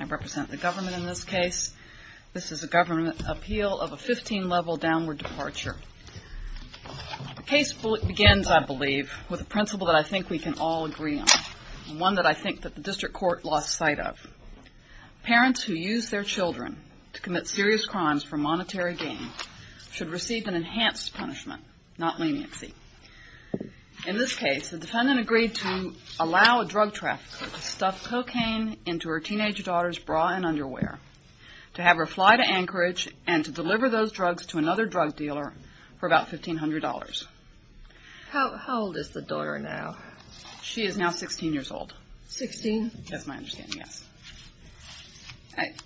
I represent the government in this case. This is a government appeal of a 15-level downward departure. The case begins, I believe, with a principle that I think we can all agree on, and one that I think that the district court lost sight of. Parents who use their children in this case should receive an enhanced punishment, not leniency. In this case, the defendant agreed to allow a drug trafficker to stuff cocaine into her teenage daughter's bra and underwear, to have her fly to Anchorage, and to deliver those drugs to another drug dealer for about $1,500. How old is the daughter now? She is now 16 years old. Sixteen? That's my understanding, yes.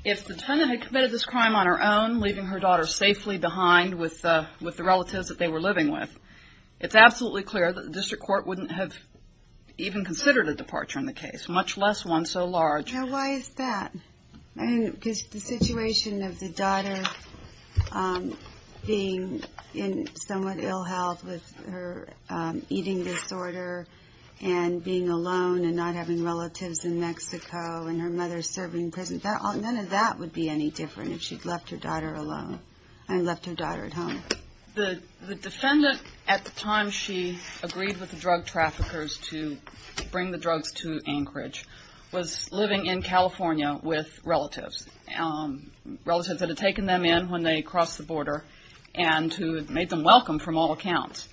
If the defendant had committed this crime on her own, leaving her daughter safely behind with the relatives that they were living with, it's absolutely clear that the district court wouldn't have even considered a departure in the case, much less one so large. Now, why is that? Because the situation of the daughter being in somewhat ill health with her eating disorder and being alone and not having relatives in Mexico and her mother serving prison, none of that would be any different if she'd left her daughter alone and left her daughter at home. The defendant, at the time she agreed with the drug traffickers to bring the drugs to Anchorage, was living in California with relatives, relatives that had taken them in when they crossed the border and who had made them welcome from all accounts.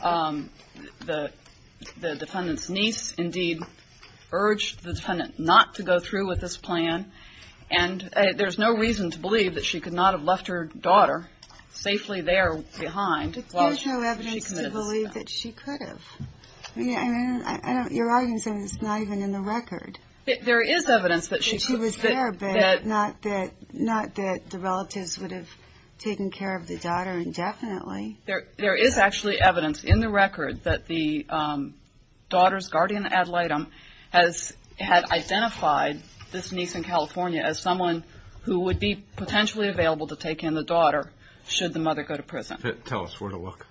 The defendant's niece indeed urged the defendant not to go through with this plan, and there's no reason to believe that she could not have left her daughter safely there behind while she committed this crime. But there's no evidence to believe that she could have. I mean, your argument is not even in the record. There is evidence that she could have. That she was there, but not that the relatives would have taken care of the daughter indefinitely. There is actually evidence in the record that the daughter's guardian ad litem had identified this niece in California as someone who would be potentially available to take in the daughter should the mother go to prison. Tell us where to look.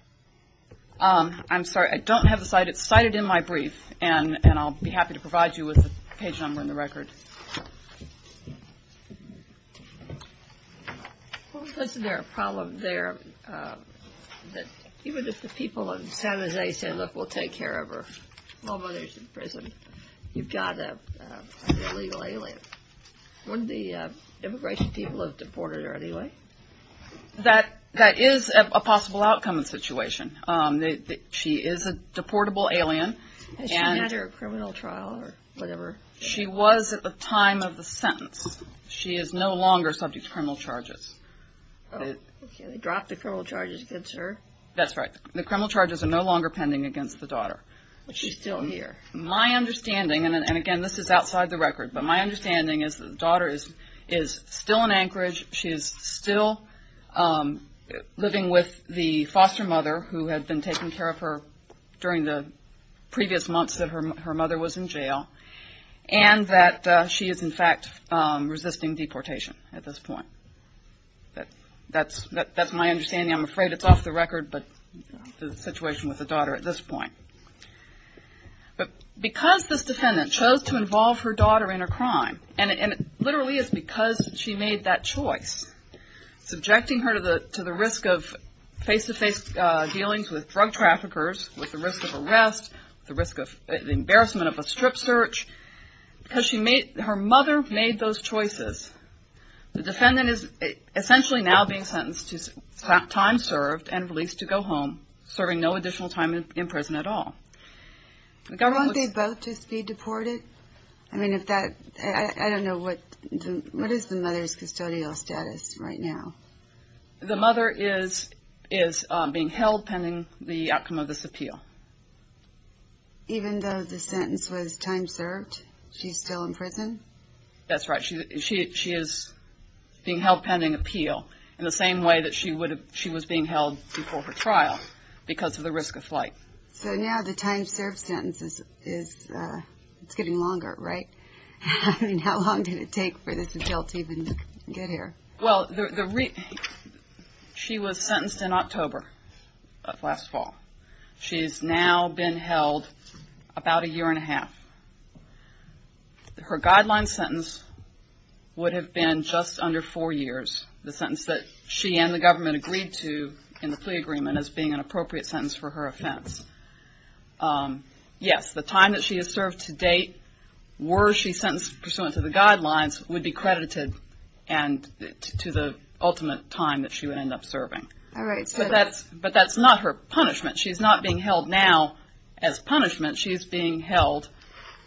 I'm sorry, I don't have the site. It's cited in my brief, and I'll be happy to provide you with the page number and the record. Wasn't there a problem there that even if the people in San Jose said, look, we'll take care of her, although she's in prison, you've got an illegal alien. Wouldn't the immigration people have deported her anyway? That is a possible outcome of the situation. She is a deportable alien. Has she been under a criminal trial or whatever? She was at the time of the sentence. She is no longer subject to criminal charges. Okay, they dropped the criminal charges against her? That's right. The criminal charges are no longer pending against the daughter. But she's still here. My understanding, and again, this is outside the record, but my understanding is that the daughter is still in Anchorage. She is still living with the foster mother who had been and that she is, in fact, resisting deportation at this point. That's my understanding. I'm afraid it's off the record, but the situation with the daughter at this point. Because this defendant chose to involve her daughter in a crime, and it literally is because she made that choice, subjecting her to the risk of face-to-face dealings with drug traffickers, with the risk of arrest, the embarrassment of a strip search, because her mother made those choices. The defendant is essentially now being sentenced to time served and released to go home, serving no additional time in prison at all. Won't they both just be deported? I don't know, what is the mother's custodial status right now? The mother is being held pending the outcome of this appeal. Even though the sentence was time served, she's still in prison? That's right. She is being held pending appeal in the same way that she was being held before her trial because of the risk of flight. So now the time served sentence is getting longer, right? How long did it take for this to happen? She was sentenced in October of last fall. She has now been held about a year and a half. Her guideline sentence would have been just under four years, the sentence that she and the government agreed to in the plea agreement as being an appropriate sentence for her offense. Yes, the time that she has served to date, were she sentenced pursuant to the guidelines, would be credited to the ultimate time that she would end up serving. But that's not her punishment. She's not being held now as punishment. She's being held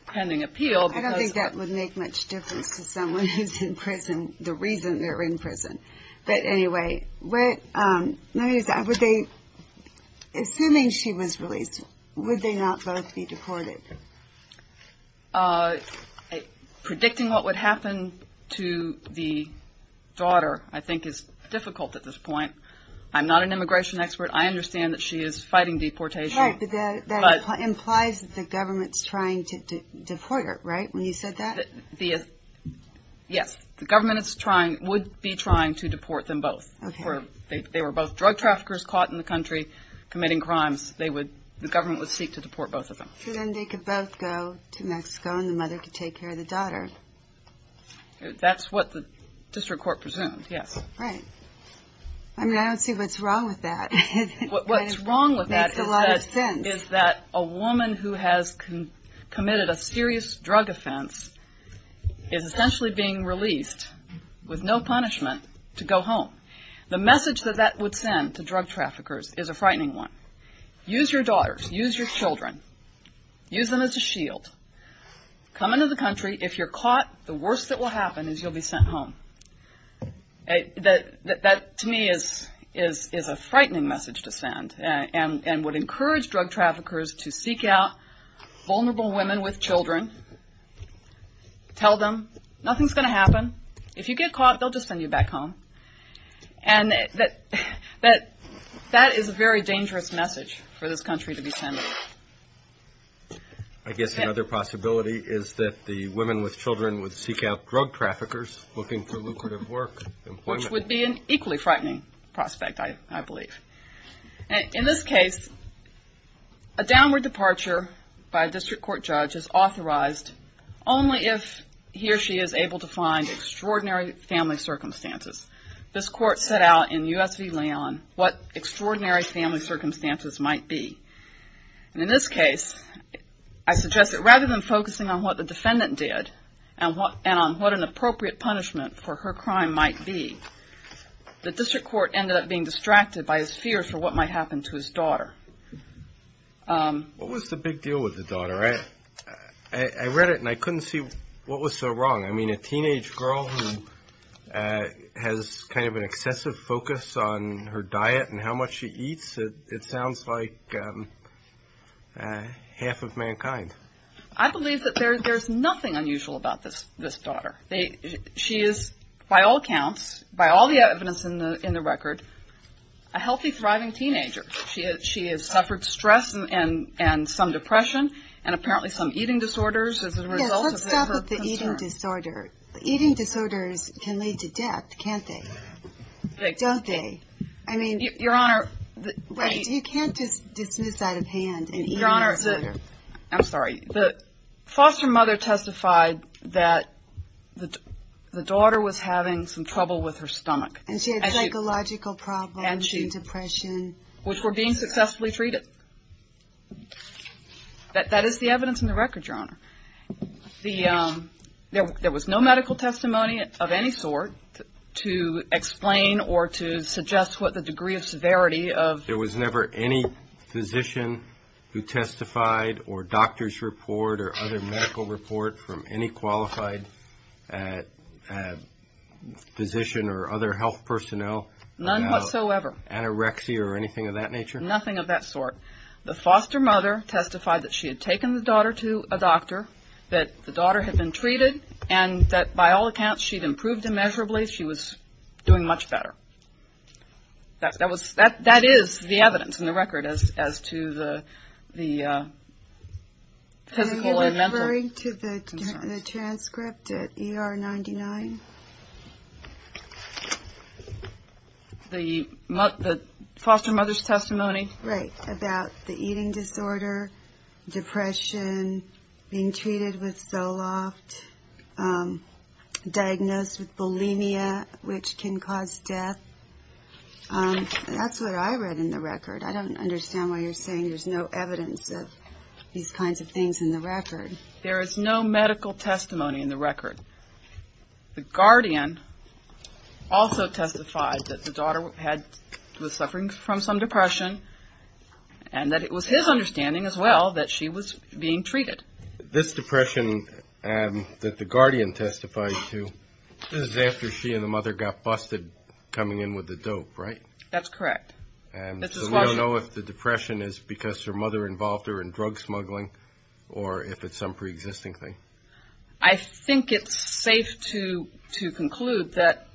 pending appeal. I don't think that would make much difference to someone who's in prison, the reason they're in prison. But anyway, assuming she was released, would they not both be deported? Predicting what would happen to the daughter, I think, is difficult at this point. I'm not an immigration expert. I understand that she is fighting deportation. Right, but that implies that the government's trying to deport her, right? When you said that? Yes, the government would be trying to deport them both. They were both drug traffickers caught in the country committing crimes. The government would seek to deport both of them. So then they could both go to Mexico and the mother could take care of the daughter. That's what the district court presumed, yes. Right. I mean, I don't see what's wrong with that. What's wrong with that is that a woman who has committed a serious drug offense is essentially being released with no punishment to go home. The message that that would send to drug traffickers is a frightening one. Use your daughters. Use your children. Use them as a shield. Come into the country. If you're caught, the worst that will happen is you'll be sent home. That to me is a frightening message to send and would encourage drug traffickers to seek out vulnerable women with children. Tell them nothing's going to happen. If you get caught, they'll just send you back home. And that is a very dangerous message for this country to be sending. I guess another possibility is that the women with children would seek out drug traffickers looking for lucrative work, employment. Which would be an equally frightening prospect, I believe. In this case, a downward departure by a district court judge is authorized only if he or she is able to find extraordinary family circumstances. This court set out in U.S. v. Leon what extraordinary family circumstances might be. And in this case, I suggest that rather than focusing on what the defendant did and on what an appropriate punishment for her crime might be, the district court ended up being distracted by his fear for what might happen to his daughter. What was the big deal with the daughter? I read it and I couldn't see what was so wrong. I mean, a teenage girl who has kind of an excessive focus on her diet and how much she eats? It sounds like half of mankind. I believe that there's nothing unusual about this daughter. She is, by all accounts, by all the evidence in the record, a healthy, thriving teenager. She has suffered stress and some depression and apparently some eating disorders as a result of her concern. Yes, let's stop at the eating disorder. Eating disorders can lead to death, can't they? Don't they? I mean, you can't just dismiss out of hand an eating disorder. Your Honor, I'm sorry. The foster mother testified that the daughter was having some trouble with her stomach. And she had psychological problems and depression. Which were being successfully treated. That is the evidence in the record, Your Honor. There was no medical testimony of any sort to explain or to suggest what the degree of severity of... There was never any physician who testified or doctor's report or other medical report from any qualified physician or other health personnel? None whatsoever. Anorexia or anything of that nature? Nothing of that sort. The foster mother testified that she had taken the daughter to a doctor, that the daughter had been treated, and that by all accounts, she'd improved immeasurably. She was doing much better. That is the evidence in the record as to the physical and mental... Referring to the transcript at ER 99? The foster mother's testimony? Right. About the eating disorder, depression, being treated with Zoloft, diagnosed with bulimia, which can cause death. That's what I read in the record. I don't understand why you're saying there's no evidence of these kinds of things in the record. There is no medical testimony in the record. The guardian also testified that the daughter was suffering from some depression, and that it was his understanding as well that she was being treated. This depression that the guardian testified to, this is after she and the mother got busted coming in with the dope, right? That's correct. So we don't know if the depression is because her mother involved her in drug smuggling, or if it's some pre-existing thing. I think it's safe to conclude that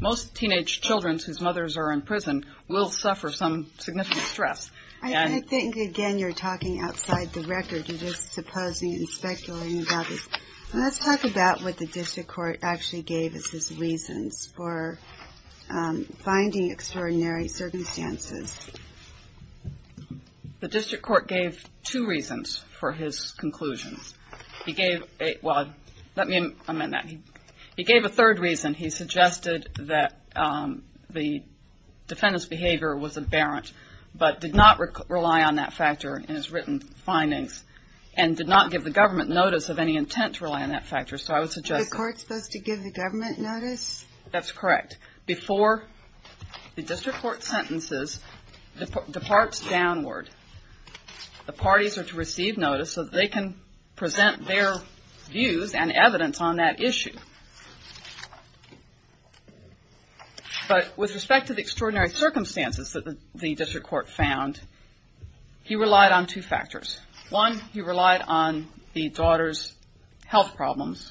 most teenage children whose mothers are in prison will suffer some significant stress. I think, again, you're talking outside the record. You're just supposing and speculating about this. Let's talk about what the district court actually gave as its reasons for finding extraordinary circumstances. The district court gave two reasons for his conclusions. He gave a third reason. He suggested that the defendant's behavior was aberrant, but did not rely on that factor in his written findings, and did not give the government notice of any intent to rely on that factor. So I would suggest that The court's supposed to give the government notice? That's correct. Before the district court's sentences departs downward, the parties are to receive notice so that they can present their views and evidence on that issue. But with respect to the extraordinary circumstances that the district court found, he relied on two factors. One, he relied on the daughter's health problems,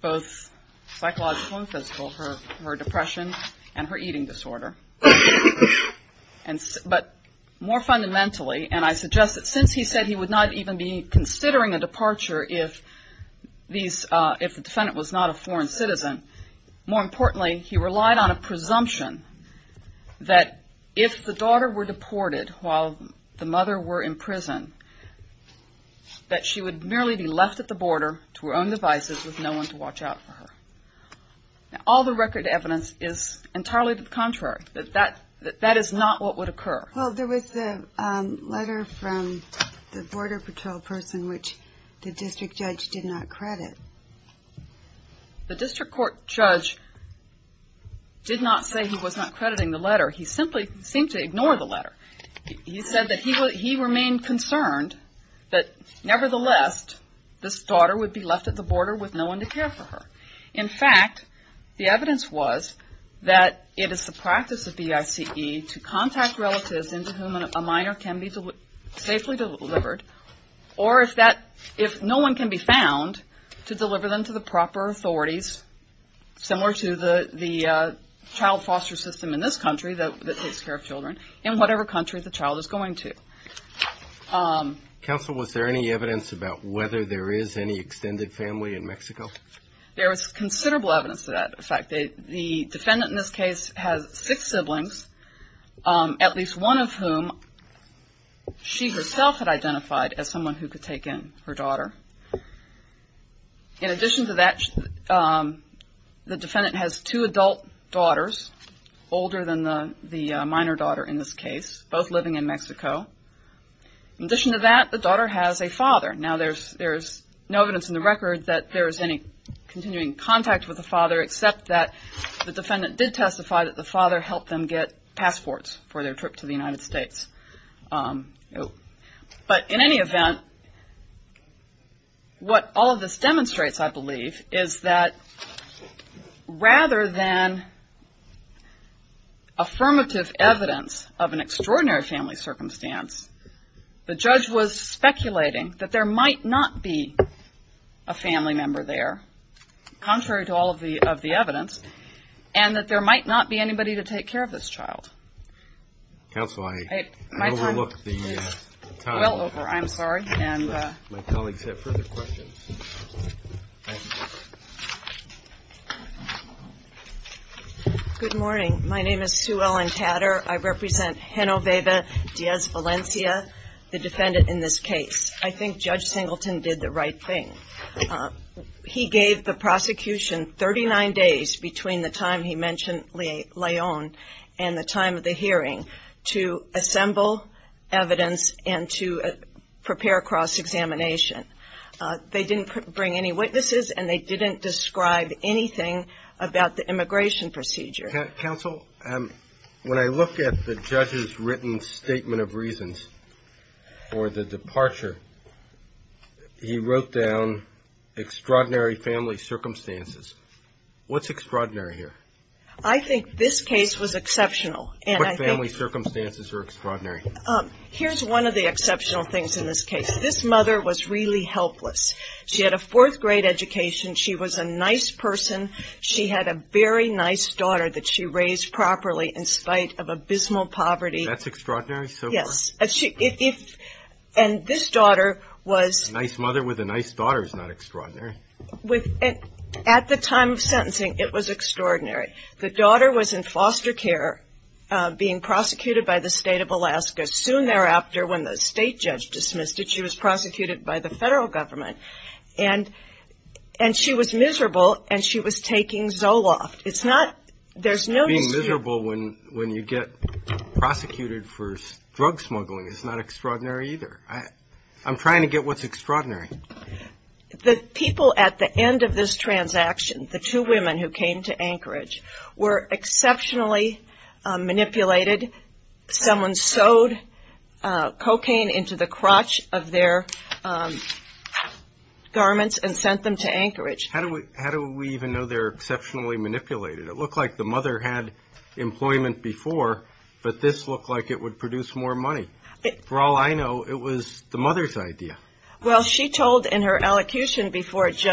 both psychological and physical, her depression and her eating disorder. But more fundamentally, and I suggest that since he said he would not even be considering a departure if the defendant was not a foreign citizen, more importantly, he relied on a presumption that if the daughter were deported while the mother were in prison, that she would merely be left at the border to her own devices with no one to watch out for her. All the record evidence is entirely the contrary, that that is not what would occur. Well, there was a letter from the border patrol person which the district judge did not credit. The district court judge did not say he was not crediting the letter. He simply seemed to ignore the letter. He said that he remained concerned that nevertheless, this daughter would be left at the border with no one to care for her. In fact, the evidence was that it is the practice of the ICE to contact relatives into whom a minor can be safely delivered or if no one can be found, to deliver them to the proper authorities similar to the child care of children in whatever country the child is going to. Counsel, was there any evidence about whether there is any extended family in Mexico? There was considerable evidence of that. In fact, the defendant in this case has six siblings, at least one of whom she herself had identified as someone who could take in her daughter. In addition to that, the defendant has two adult daughters, older than the minor daughter in this case, both living in Mexico. In addition to that, the daughter has a father. Now, there is no evidence in the record that there is any continuing contact with the father except that the defendant did testify that the father helped them get passports for their trip to the United States. But in any event, what all of this demonstrates, I believe, is that rather than affirmative evidence of an extraordinary family circumstance, the judge was speculating that there might not be a family member there, contrary to all of the evidence, and that there might not be anybody to take care of this child. Counsel, I overlooked the time. Well over, I'm sorry. My colleagues have further questions. Good morning. My name is Sue Ellen Tadder. I represent Genoveva Diaz Valencia, the defendant in this case. I think Judge Singleton did the right thing. He gave the prosecution 39 days between the time he mentioned Leon and the time of the hearing to assemble evidence and to prepare a cross-examination. They didn't bring any witnesses, and they didn't describe anything about the immigration procedure. Counsel, when I look at the judge's written statement of reasons for the departure, he said, what's extraordinary here? I think this case was exceptional. What family circumstances are extraordinary? Here's one of the exceptional things in this case. This mother was really helpless. She had a fourth-grade education. She was a nice person. She had a very nice daughter that she raised properly in spite of abysmal poverty. That's extraordinary so far? Yes. And this daughter was... A nice mother with a nice daughter is not extraordinary. At the time of sentencing, it was extraordinary. The daughter was in foster care being prosecuted by the state of Alaska. Soon thereafter, when the state judge dismissed it, she was prosecuted by the federal government. And she was miserable, and she was taking Zoloft. It's not... Being miserable when you get prosecuted for drug smuggling is not extraordinary either. I'm trying to get what's extraordinary. The people at the end of this transaction, the two women who came to Anchorage, were exceptionally manipulated. Someone sewed cocaine into the crotch of their garments and sent them to Anchorage. How do we even know they're exceptionally manipulated? It looked like the mother had employment before, but this looked like it would produce more money. For all I know, it was the mother's idea. Well, she told in her elocution before the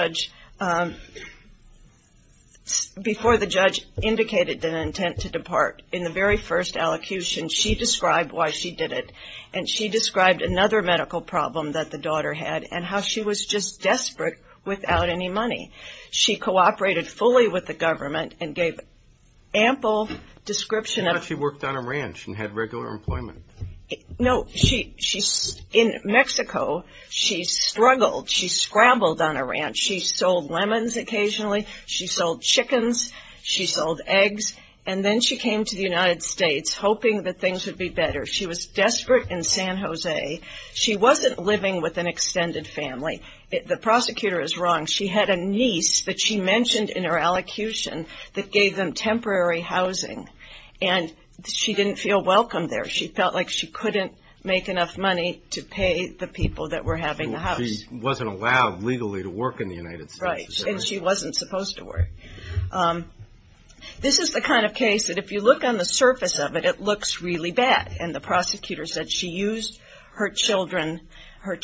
judge indicated an intent to depart, in the very first elocution, she described why she did it. And she described another medical problem that the daughter had, and how she was just desperate without any money. She cooperated fully with the government and gave ample description of... She worked on a ranch and had regular employment. No, she... In Mexico, she struggled. She scrambled on a ranch. She sold lemons occasionally. She sold chickens. She sold eggs. And then she came to the United States, hoping that things would be better. She was desperate in San Jose. She wasn't living with an extended family. The prosecutor is wrong. She had a niece that she mentioned in her elocution that gave them temporary housing. And she didn't feel welcomed there. She felt like she couldn't make enough money to pay the people that were having the house. She wasn't allowed legally to work in the United States. Right. And she wasn't supposed to work. This is the kind of case that if you look on the surface of it, it looks really bad. And the prosecutor said she used her children, her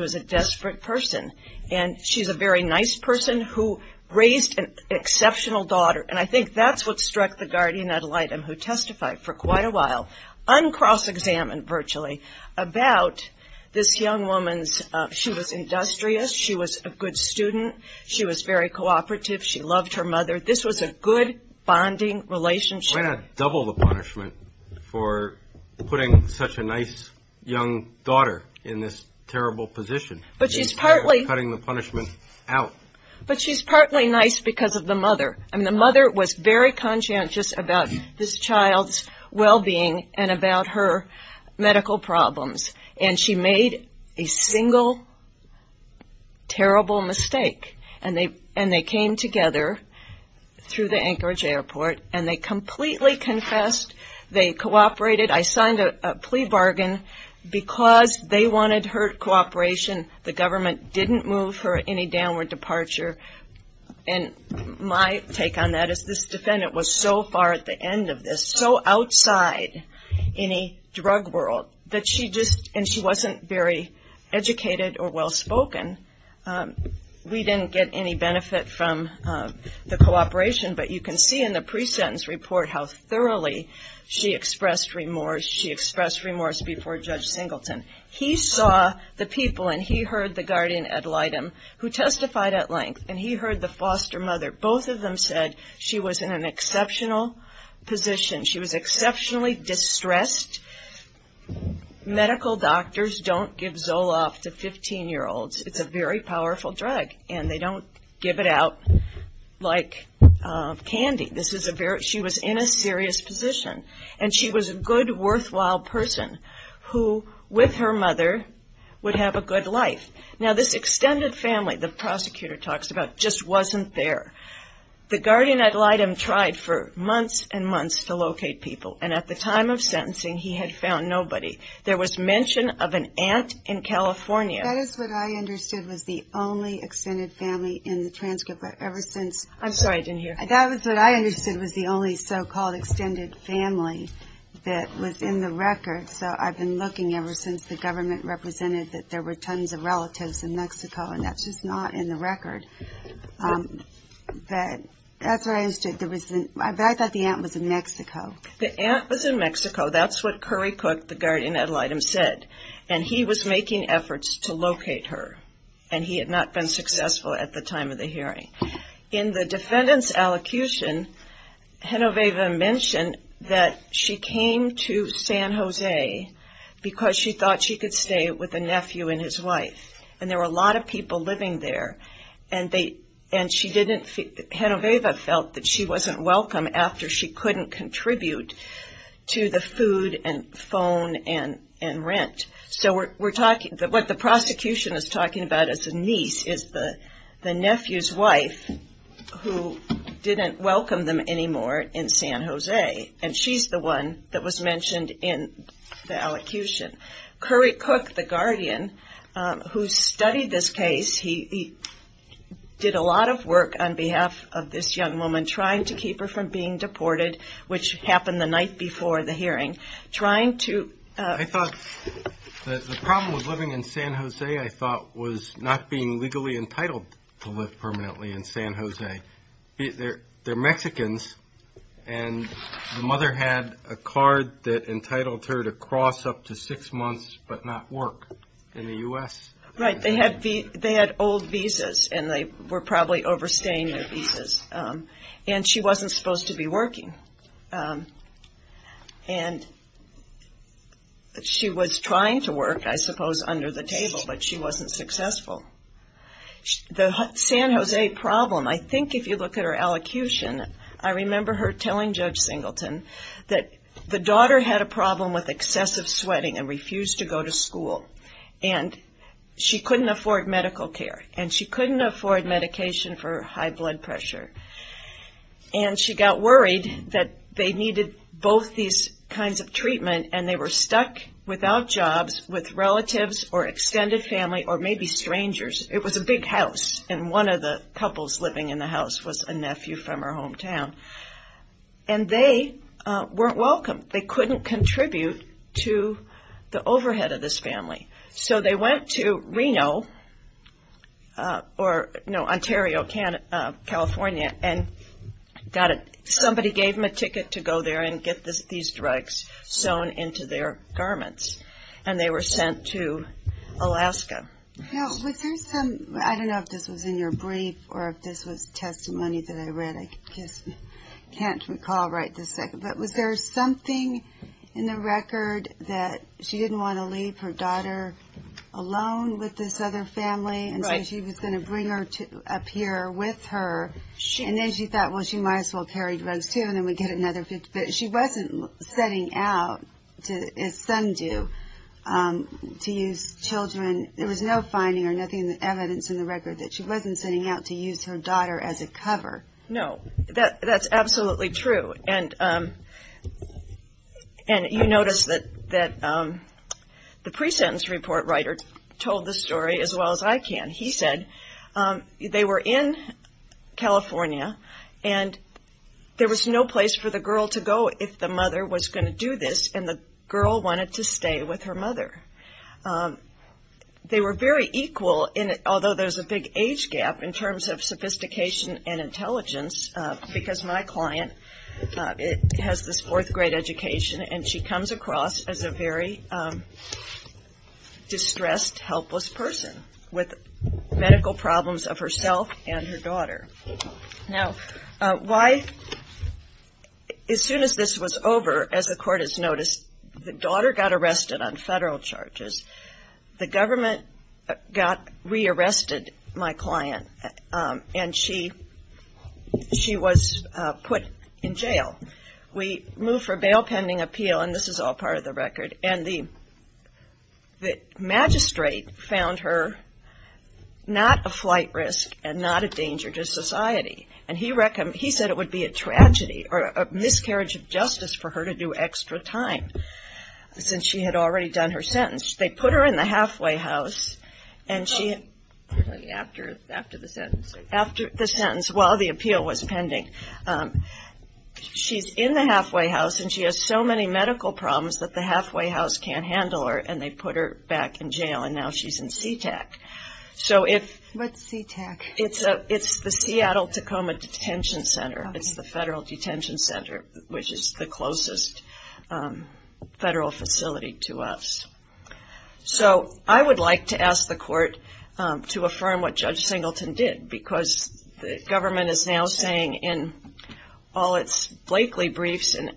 was a desperate person. And she's a very nice person who raised an exceptional daughter. And I think that's what struck the guardian ad litem, who testified for quite a while, uncross-examined virtually, about this young woman's... She was industrious. She was a good student. She was very cooperative. She loved her mother. This was a good, bonding relationship. Why not double the punishment for putting such a nice, young daughter in this terrible position? But she's partly... Cutting the punishment out. But she's partly nice because of the mother. I mean, the mother was very conscientious about this child's well-being and about her medical problems. And she made a single terrible mistake. And they came together through the Anchorage airport, and they completely confessed. They cooperated. I signed a plea bargain. Because they wanted her cooperation, the government didn't move her any downward departure. And my take on that is this defendant was so far at the end of this, so outside any drug world, that she just... And she wasn't very educated or well-spoken. We didn't get any benefit from the cooperation. But you can see in the case, she expressed remorse. She expressed remorse before Judge Singleton. He saw the people, and he heard the guardian ad litem, who testified at length. And he heard the foster mother. Both of them said she was in an exceptional position. She was exceptionally distressed. Medical doctors don't give Zoloft to 15-year-olds. It's a very powerful drug. And they don't give it out like candy. This is a very... She was in a serious position. And she was a good, worthwhile person who, with her mother, would have a good life. Now this extended family the prosecutor talks about just wasn't there. The guardian ad litem tried for months and months to locate people. And at the time of sentencing, he had found nobody. There was mention of an aunt in California. That is what I understood was the only extended family in the transcript. But ever since... I'm sorry, I didn't hear. That is what I understood was the only so-called extended family that was in the record. So I've been looking ever since the government represented that there were tons of relatives in Mexico. And that's just not in the record. But that's what I understood. I thought the aunt was in Mexico. The aunt was in Mexico. That's what Curry Cook, the guardian ad litem, said. And he was making efforts to locate her. And he had not been successful at the time of the hearing. In the defendant's allocution, Genoveva mentioned that she came to San Jose because she thought she could stay with a nephew and his wife. And there were a lot of people living there. And Genoveva felt that she wasn't welcome after she couldn't contribute to the food and phone and rent. So what the prosecution is talking about as a niece is the nephew's wife who didn't welcome them anymore in San Jose. And she's the one that was mentioned in the allocution. Curry Cook, the guardian, who studied this case, he did a lot of work on behalf of this young woman trying to keep her from being deported, which happened the night before the hearing, trying to... I thought the problem with living in San Jose, I thought, was not being legally entitled to live permanently in San Jose. They're Mexicans. And the mother had a card that entitled her to cross up to six months but not work in the U.S. Right. They had old visas. And they were probably overstaying their visas. And she wasn't supposed to be working. And she was trying to work, I suppose, under the table, but she wasn't successful. The San Jose problem, I think if you look at her allocution, I remember her telling Judge Singleton that the daughter had a problem with excessive sweating and refused to go to school. And she couldn't afford medical care. And she couldn't afford medication for high blood pressure. And she got worried that they needed both these kinds of treatment and they were stuck without jobs with relatives or extended family or maybe strangers. It was a big house and one of the couples living in the house was a nephew from her hometown. And they weren't welcome. They couldn't contribute to the overhead of this family. So they went to Reno or, no, Ontario, California and somebody gave them a ticket to go there and get these drugs sewn into their garments. And they were sent to Alaska. Now, was there some, I don't know if this was in your brief or if this was testimony that I read. I just can't recall right this second. But was there something in the record that she didn't want to leave her daughter alone with this other family? And so she was going to bring her up here with her. And then she thought, well, she might as well carry drugs too and then we'd get another 50. But she wasn't setting out, as some do, to use children. There was no finding or nothing in the evidence in the record that she wasn't setting out to use her daughter as a cover. No, that's absolutely true. And you notice that the pre-sentence report writer told the story as well as I can. He said they were in California and there was no place for the girl to go if the mother was going to do this and the girl wanted to stay with her mother. They were very equal, although there's a big age gap in terms of sophistication and intelligence, because my client has this fourth grade education and she comes across as a very distressed, helpless person with medical problems of herself and her daughter. Now, why, as soon as this was over, as the court has noticed, the daughter got arrested on federal charges. The government got re-arrested my client and she was put in jail. We moved for a bail pending appeal and this is all part of the record. And the magistrate found her not a flight risk and not a danger to society and he said it would be a tragedy or a miscarriage of justice for her to do extra time since she had already done her sentence. They put her in the halfway house and she, after the sentence, while the appeal was pending, she's in the halfway house and she has so many medical problems that the halfway house can't handle her and they put her in the halfway house. It's the Seattle-Tacoma Detention Center. It's the federal detention center, which is the closest federal facility to us. So, I would like to ask the court to affirm what Judge Singleton did, because the government is now saying in all its Blakely briefs and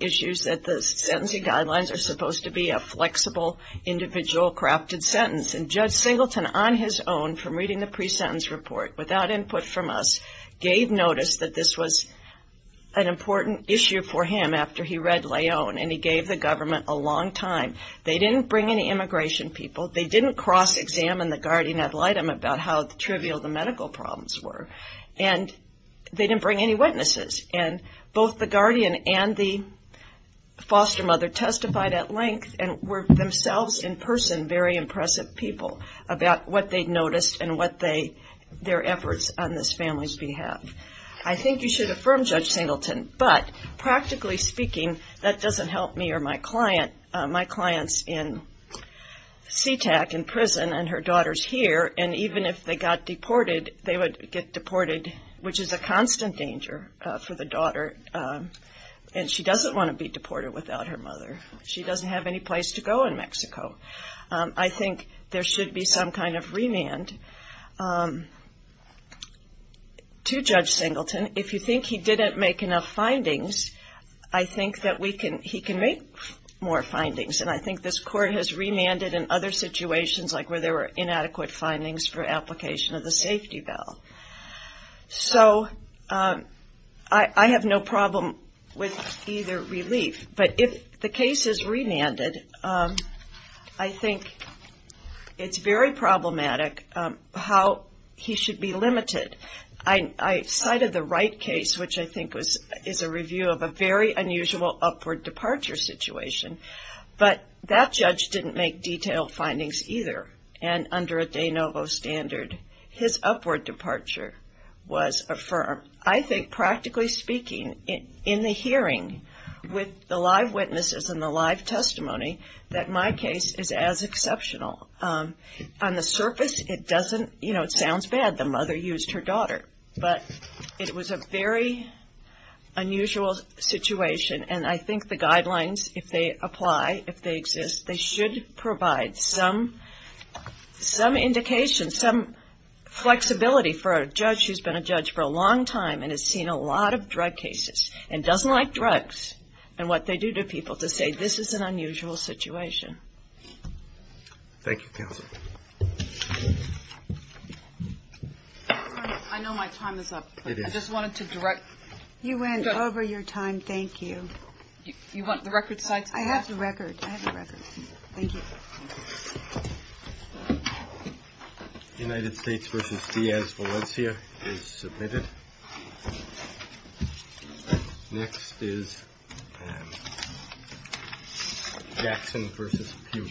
issues that the sentencing guidelines are supposed to be a flexible, individual crafted sentence and Judge Singleton, on his own, from reading the pre-sentence report without input from us, gave notice that this was an important issue for him after he read Leon and he gave the government a long time. They didn't bring any immigration people. They didn't cross-examine the guardian ad litem about how trivial the medical problems were and they didn't bring any witnesses and both the guardian and the foster mother testified at length and were themselves, in person, very impressive people about what they noticed and what their efforts on this family's behalf. I think you should affirm Judge Singleton, but practically speaking, that doesn't help me or my client. My client's in SeaTac in prison and her daughter's here and even if they got deported, they would get deported, which is a constant danger for the daughter and she doesn't want to be deported without her mother. She doesn't have any place to go in Mexico. I think there should be some kind of remand to Judge Singleton. If you think he didn't make enough findings, I think that he can make more findings and I think this court has remanded in other situations like where there were inadequate findings for application of the safety bell. So I have no problem with either relief, but if the case is remanded, I think it's very problematic how he should be limited. I cited the Wright case, which I think is a review of a very unusual upward departure situation, but that judge didn't make detailed findings either and under a de novo standard, his upward departure was affirmed. I think, practically speaking, in the hearing, with the live witnesses and the live testimony, that my case is as exceptional. On the surface, it doesn't, you know, it sounds bad the mother used her daughter, but it was a very unusual situation and I think the guidelines, if they apply, if they exist, they should provide some indication, some flexibility for a judge who's been a judge for a long time and has seen a lot of drug cases and doesn't like drugs and what they do to people to say this is an unusual situation. Thank you, counsel. I know my time is up. I just wanted to direct. You went over your time, thank you. You want the record side? I have the record. I have the record. Thank you. United States v. Diaz-Valencia is submitted. Next is Jackson v. Pugh.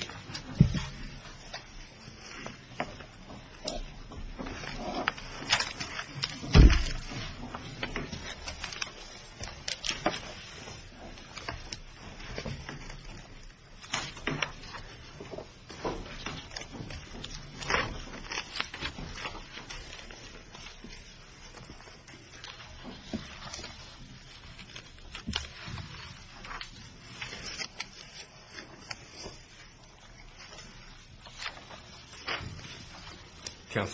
Jackson v. Pugh.